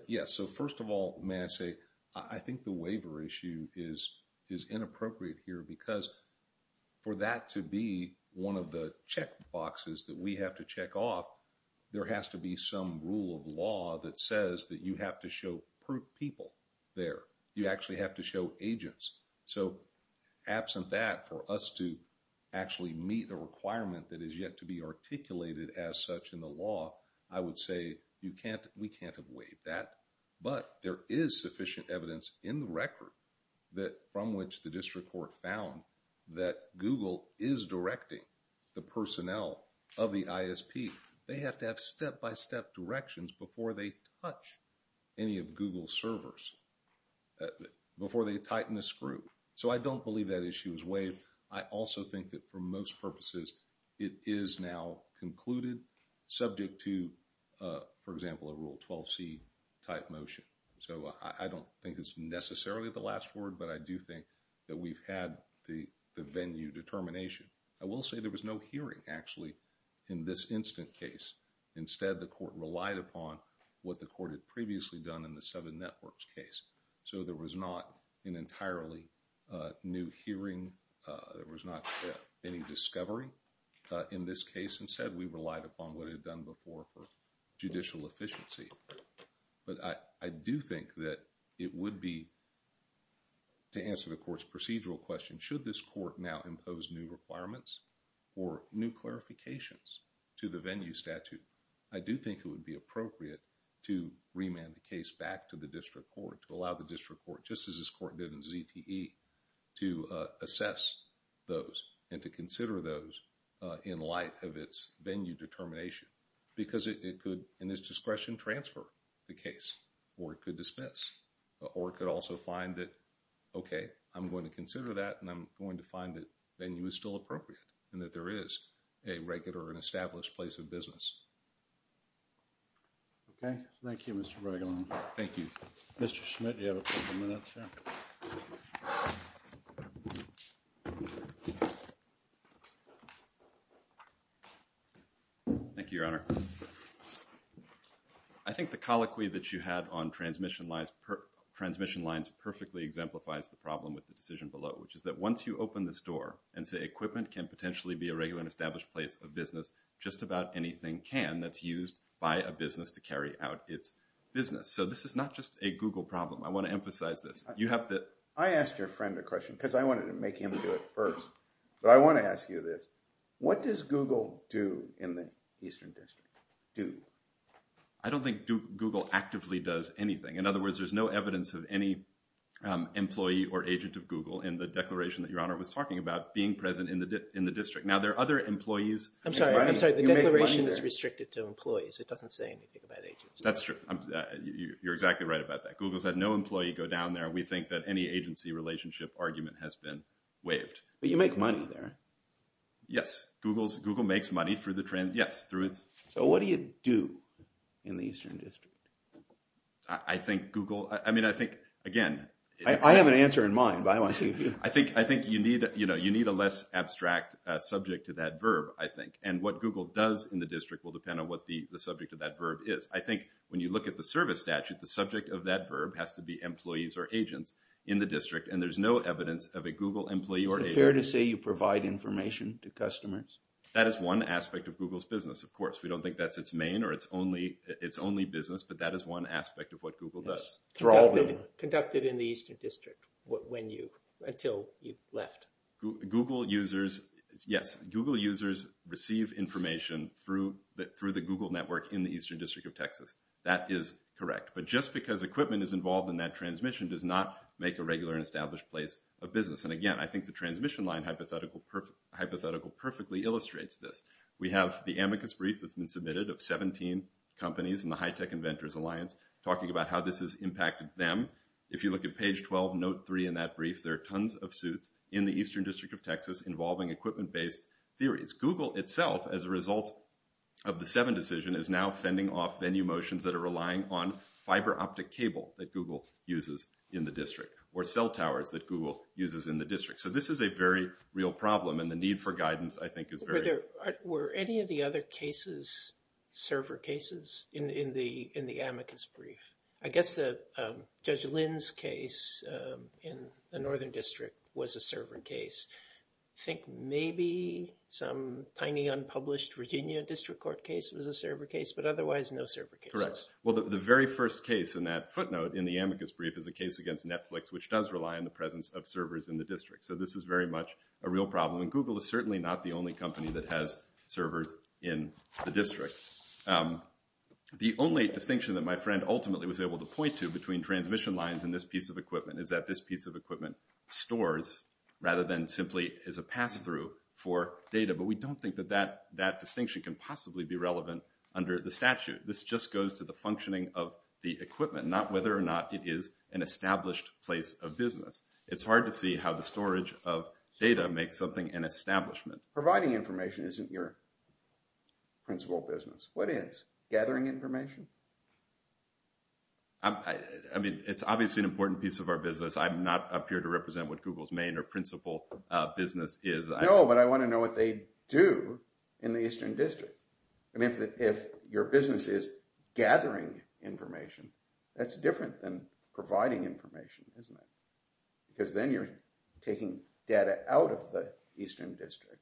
Yes. First of all, may I say, I think the waiver issue is inappropriate here because for that to be one of the check boxes that we have to check off, there has to be some rule of law that says that you have to show proof people there. You actually have to show agents. Absent that, for us to actually meet the requirement that is yet to be articulated as such in the law, I would say we can't have waived that, but there is sufficient evidence in the record from which the district court found that Google is directing the personnel of the ISP. They have to have step-by-step directions before they touch any of Google's servers, uh, before they tighten the screw. So, I don't believe that issue is waived. I also think that for most purposes, it is now concluded subject to, uh, for example, a Rule 12c type motion. So, I, I don't think it's necessarily the last word, but I do think that we've had the, the venue determination. I will say there was no hearing actually in this instant case. Instead, the court relied upon what the court had previously done in the Seven Networks case. So, there was not an entirely, uh, new hearing. Uh, there was not any discovery, uh, in this case. Instead, we relied upon what it had done before for judicial efficiency. But I, I do think that it would be, to answer the court's procedural question, should this court now impose new appropriate to remand the case back to the district court, to allow the district court, just as this court did in ZTE, to, uh, assess those and to consider those, uh, in light of its venue determination. Because it, it could, in its discretion, transfer the case or it could dismiss or it could also find that, okay, I'm going to consider that and I'm going to find that venue is still appropriate and that there is a regular and established place of business. Okay. Thank you, Mr. Bregolin. Thank you. Mr. Schmidt, you have a couple minutes here. Thank you, Your Honor. I think the colloquy that you had on transmission lines per, transmission lines perfectly exemplifies the problem with the decision below, which is that once you open this door and say equipment can potentially be a regular and established place of business, just about anything can that's used by a business to carry out its business. So this is not just a Google problem. I want to emphasize this. You have to, I asked your friend a question because I wanted to make him do it first, but I want to ask you this. What does Google do in the Eastern District? Do? I don't think Google actively does anything. In other words, there's no evidence of any, um, employee or agent of Google in the declaration that Your Honor was talking about being present in the, in the district. Now there are other employees. I'm sorry. I'm sorry. The declaration is restricted to employees. It doesn't say anything about agency. That's true. You're exactly right about that. Google's had no employee go down there. We think that any agency relationship argument has been waived. But you make money there. Yes. Google's, Google makes money through the trend. Yes. Through its. So what do you do in the Eastern District? I think Google, I mean, I think again, I have an answer in mind, but I want to see. I think, I think you need, you know, you need a less abstract subject to that verb, I think. And what Google does in the district will depend on what the subject of that verb is. I think when you look at the service statute, the subject of that verb has to be employees or agents in the district. And there's no evidence of a Google employee or agency. Is it fair to say you provide information to customers? That is one aspect of Google's business. Of course, we don't think that's its main or it's only, it's only business, but that is one aspect of what Google does. Conducted in the Eastern District when you, until you left. Google users. Yes. Google users receive information through the, through the Google network in the Eastern District of Texas. That is correct. But just because equipment is involved in that transmission does not make a regular and established place of business. And again, I think the transmission line hypothetical perfectly illustrates this. We have the amicus brief that's been submitted of 17 companies in the High Tech Inventors Alliance talking about how this has impacted them. If you look at page 12, note three in that brief, there are tons of suits in the Eastern District of Texas involving equipment-based theories. Google itself, as a result of the seven decision, is now fending off venue motions that are relying on fiber optic cable that Google uses in the district or cell towers that Google uses in the district. So this is a very real problem. And the need for guidance, I think, is very... Were there, were any of the other cases server cases in the amicus brief? I guess that Judge Lynn's case in the Northern District was a server case. I think maybe some tiny unpublished Virginia District Court case was a server case, but otherwise no server cases. Correct. Well, the very first case in that footnote in the amicus brief is a case against Netflix, which does rely on the presence of servers in the district. So this is very much a real problem. And Google is certainly not the only company that has servers in the district. The only distinction that my friend ultimately was able to point to between transmission lines and this piece of equipment is that this piece of equipment stores rather than simply is a pass-through for data. But we don't think that that distinction can possibly be relevant under the statute. This just goes to the functioning of the equipment, not whether or not it is an established place of business. It's hard to see how the storage of data makes something an establishment. Providing information isn't your principal business. What is? Gathering information? I mean, it's obviously an important piece of our business. I'm not up here to represent what Google's main or principal business is. No, but I want to know what they do in the Eastern District. I mean, if your business is gathering information, that's different than providing information, isn't it? Because then you're taking data out of the Eastern District.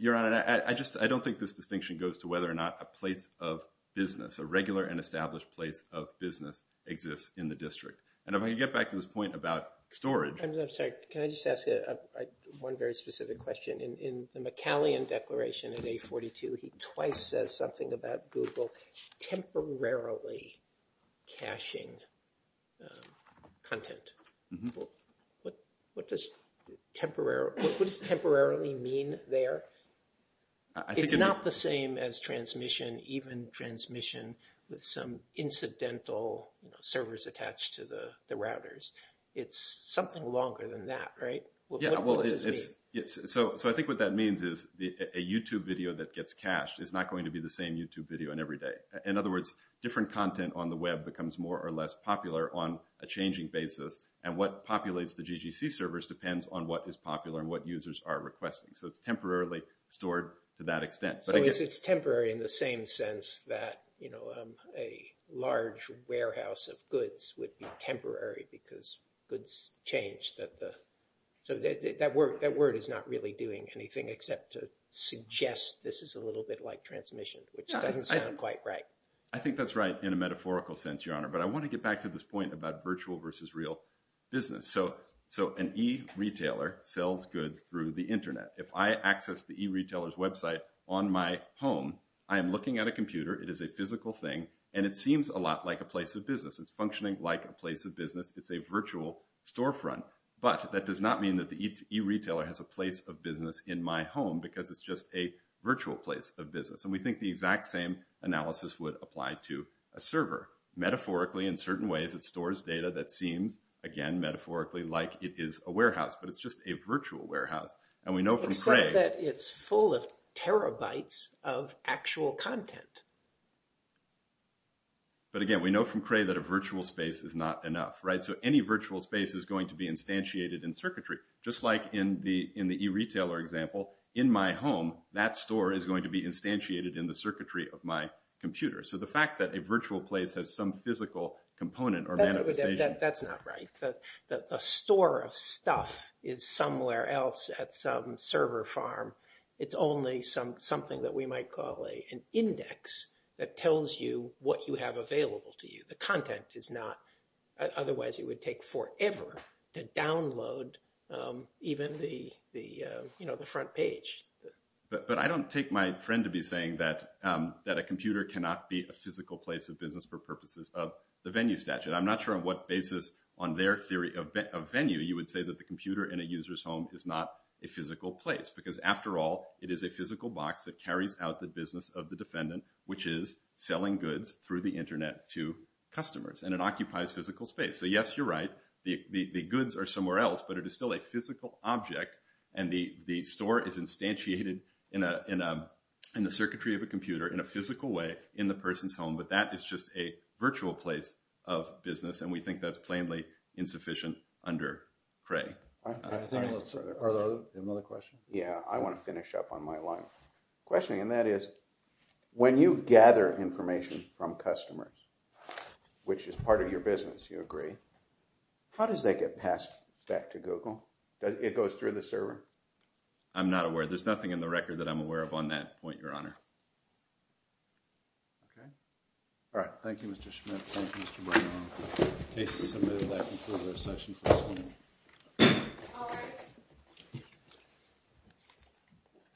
Your Honor, I don't think this distinction goes to whether or not a place of business, a regular and established place of business exists in the district. And if I can get back to this point about storage. I'm sorry, can I just ask one very specific question? In the McCallion Declaration in A42, he twice says something about Google temporarily caching content. What does temporarily mean there? It's not the same as transmission, even transmission with some incidental servers attached to the routers. It's something longer than that, right? Yeah, well, so I think what that means is a YouTube video that gets cached is not going to be the same YouTube video on every day. In other words, different content on the web becomes more or less popular on a changing basis. And what populates the GGC servers depends on what is popular and what users are requesting. So it's temporarily stored to that extent. So it's temporary in the same sense that a large warehouse of goods would be temporary because goods change. So that word is not really doing anything except to suggest this is a little bit like transmission, which doesn't sound quite right. I think that's right in a metaphorical sense, Your Honor. But I want to get back to this point about virtual versus real business. So an e-retailer sells goods through the internet. If I access the e-retailer's website on my home, I am looking at a computer. It is a physical thing. And it seems a lot like a place of business. It's a virtual storefront. But that does not mean that the e-retailer has a place of business in my home because it's just a virtual place of business. And we think the exact same analysis would apply to a server. Metaphorically, in certain ways, it stores data that seems, again, metaphorically, like it is a warehouse. But it's just a virtual warehouse. And we know from Cray— Except that it's full of terabytes of actual content. But again, we know from Cray that a virtual space is not enough, right? So any virtual space is going to be instantiated in circuitry. Just like in the e-retailer example, in my home, that store is going to be instantiated in the circuitry of my computer. So the fact that a virtual place has some physical component or manifestation— That's not right. A store of stuff is somewhere else at some server farm. It's only something that we might call an index that tells you what you have available to you. The content is not— Otherwise, it would take forever to download even the front page. But I don't take my friend to be saying that a computer cannot be a physical place of business for purposes of the venue statute. I'm not sure on what basis, on their theory of venue, you would say that the computer in a user's home is not a physical place. Because after all, it is a physical box that carries out the business of the defendant, which is selling goods through the internet to customers. And it occupies physical space. So yes, you're right. The goods are somewhere else. But it is still a physical object. And the store is instantiated in the circuitry of a computer in a physical way in the person's home. But that is just a virtual place of business. And we think that's plainly insufficient under Cray. Are there any other questions? Yeah, I want to finish up on my line of questioning. And that is, when you gather information from customers, which is part of your business, you agree, how does that get passed back to Google? It goes through the server? I'm not aware. There's nothing in the record that I'm aware of on that point, Your Honor. Okay. All right. Thank you, Mr. Schmidt. Thank you, Mr. Bernal. Case is submitted. That concludes our session for this morning.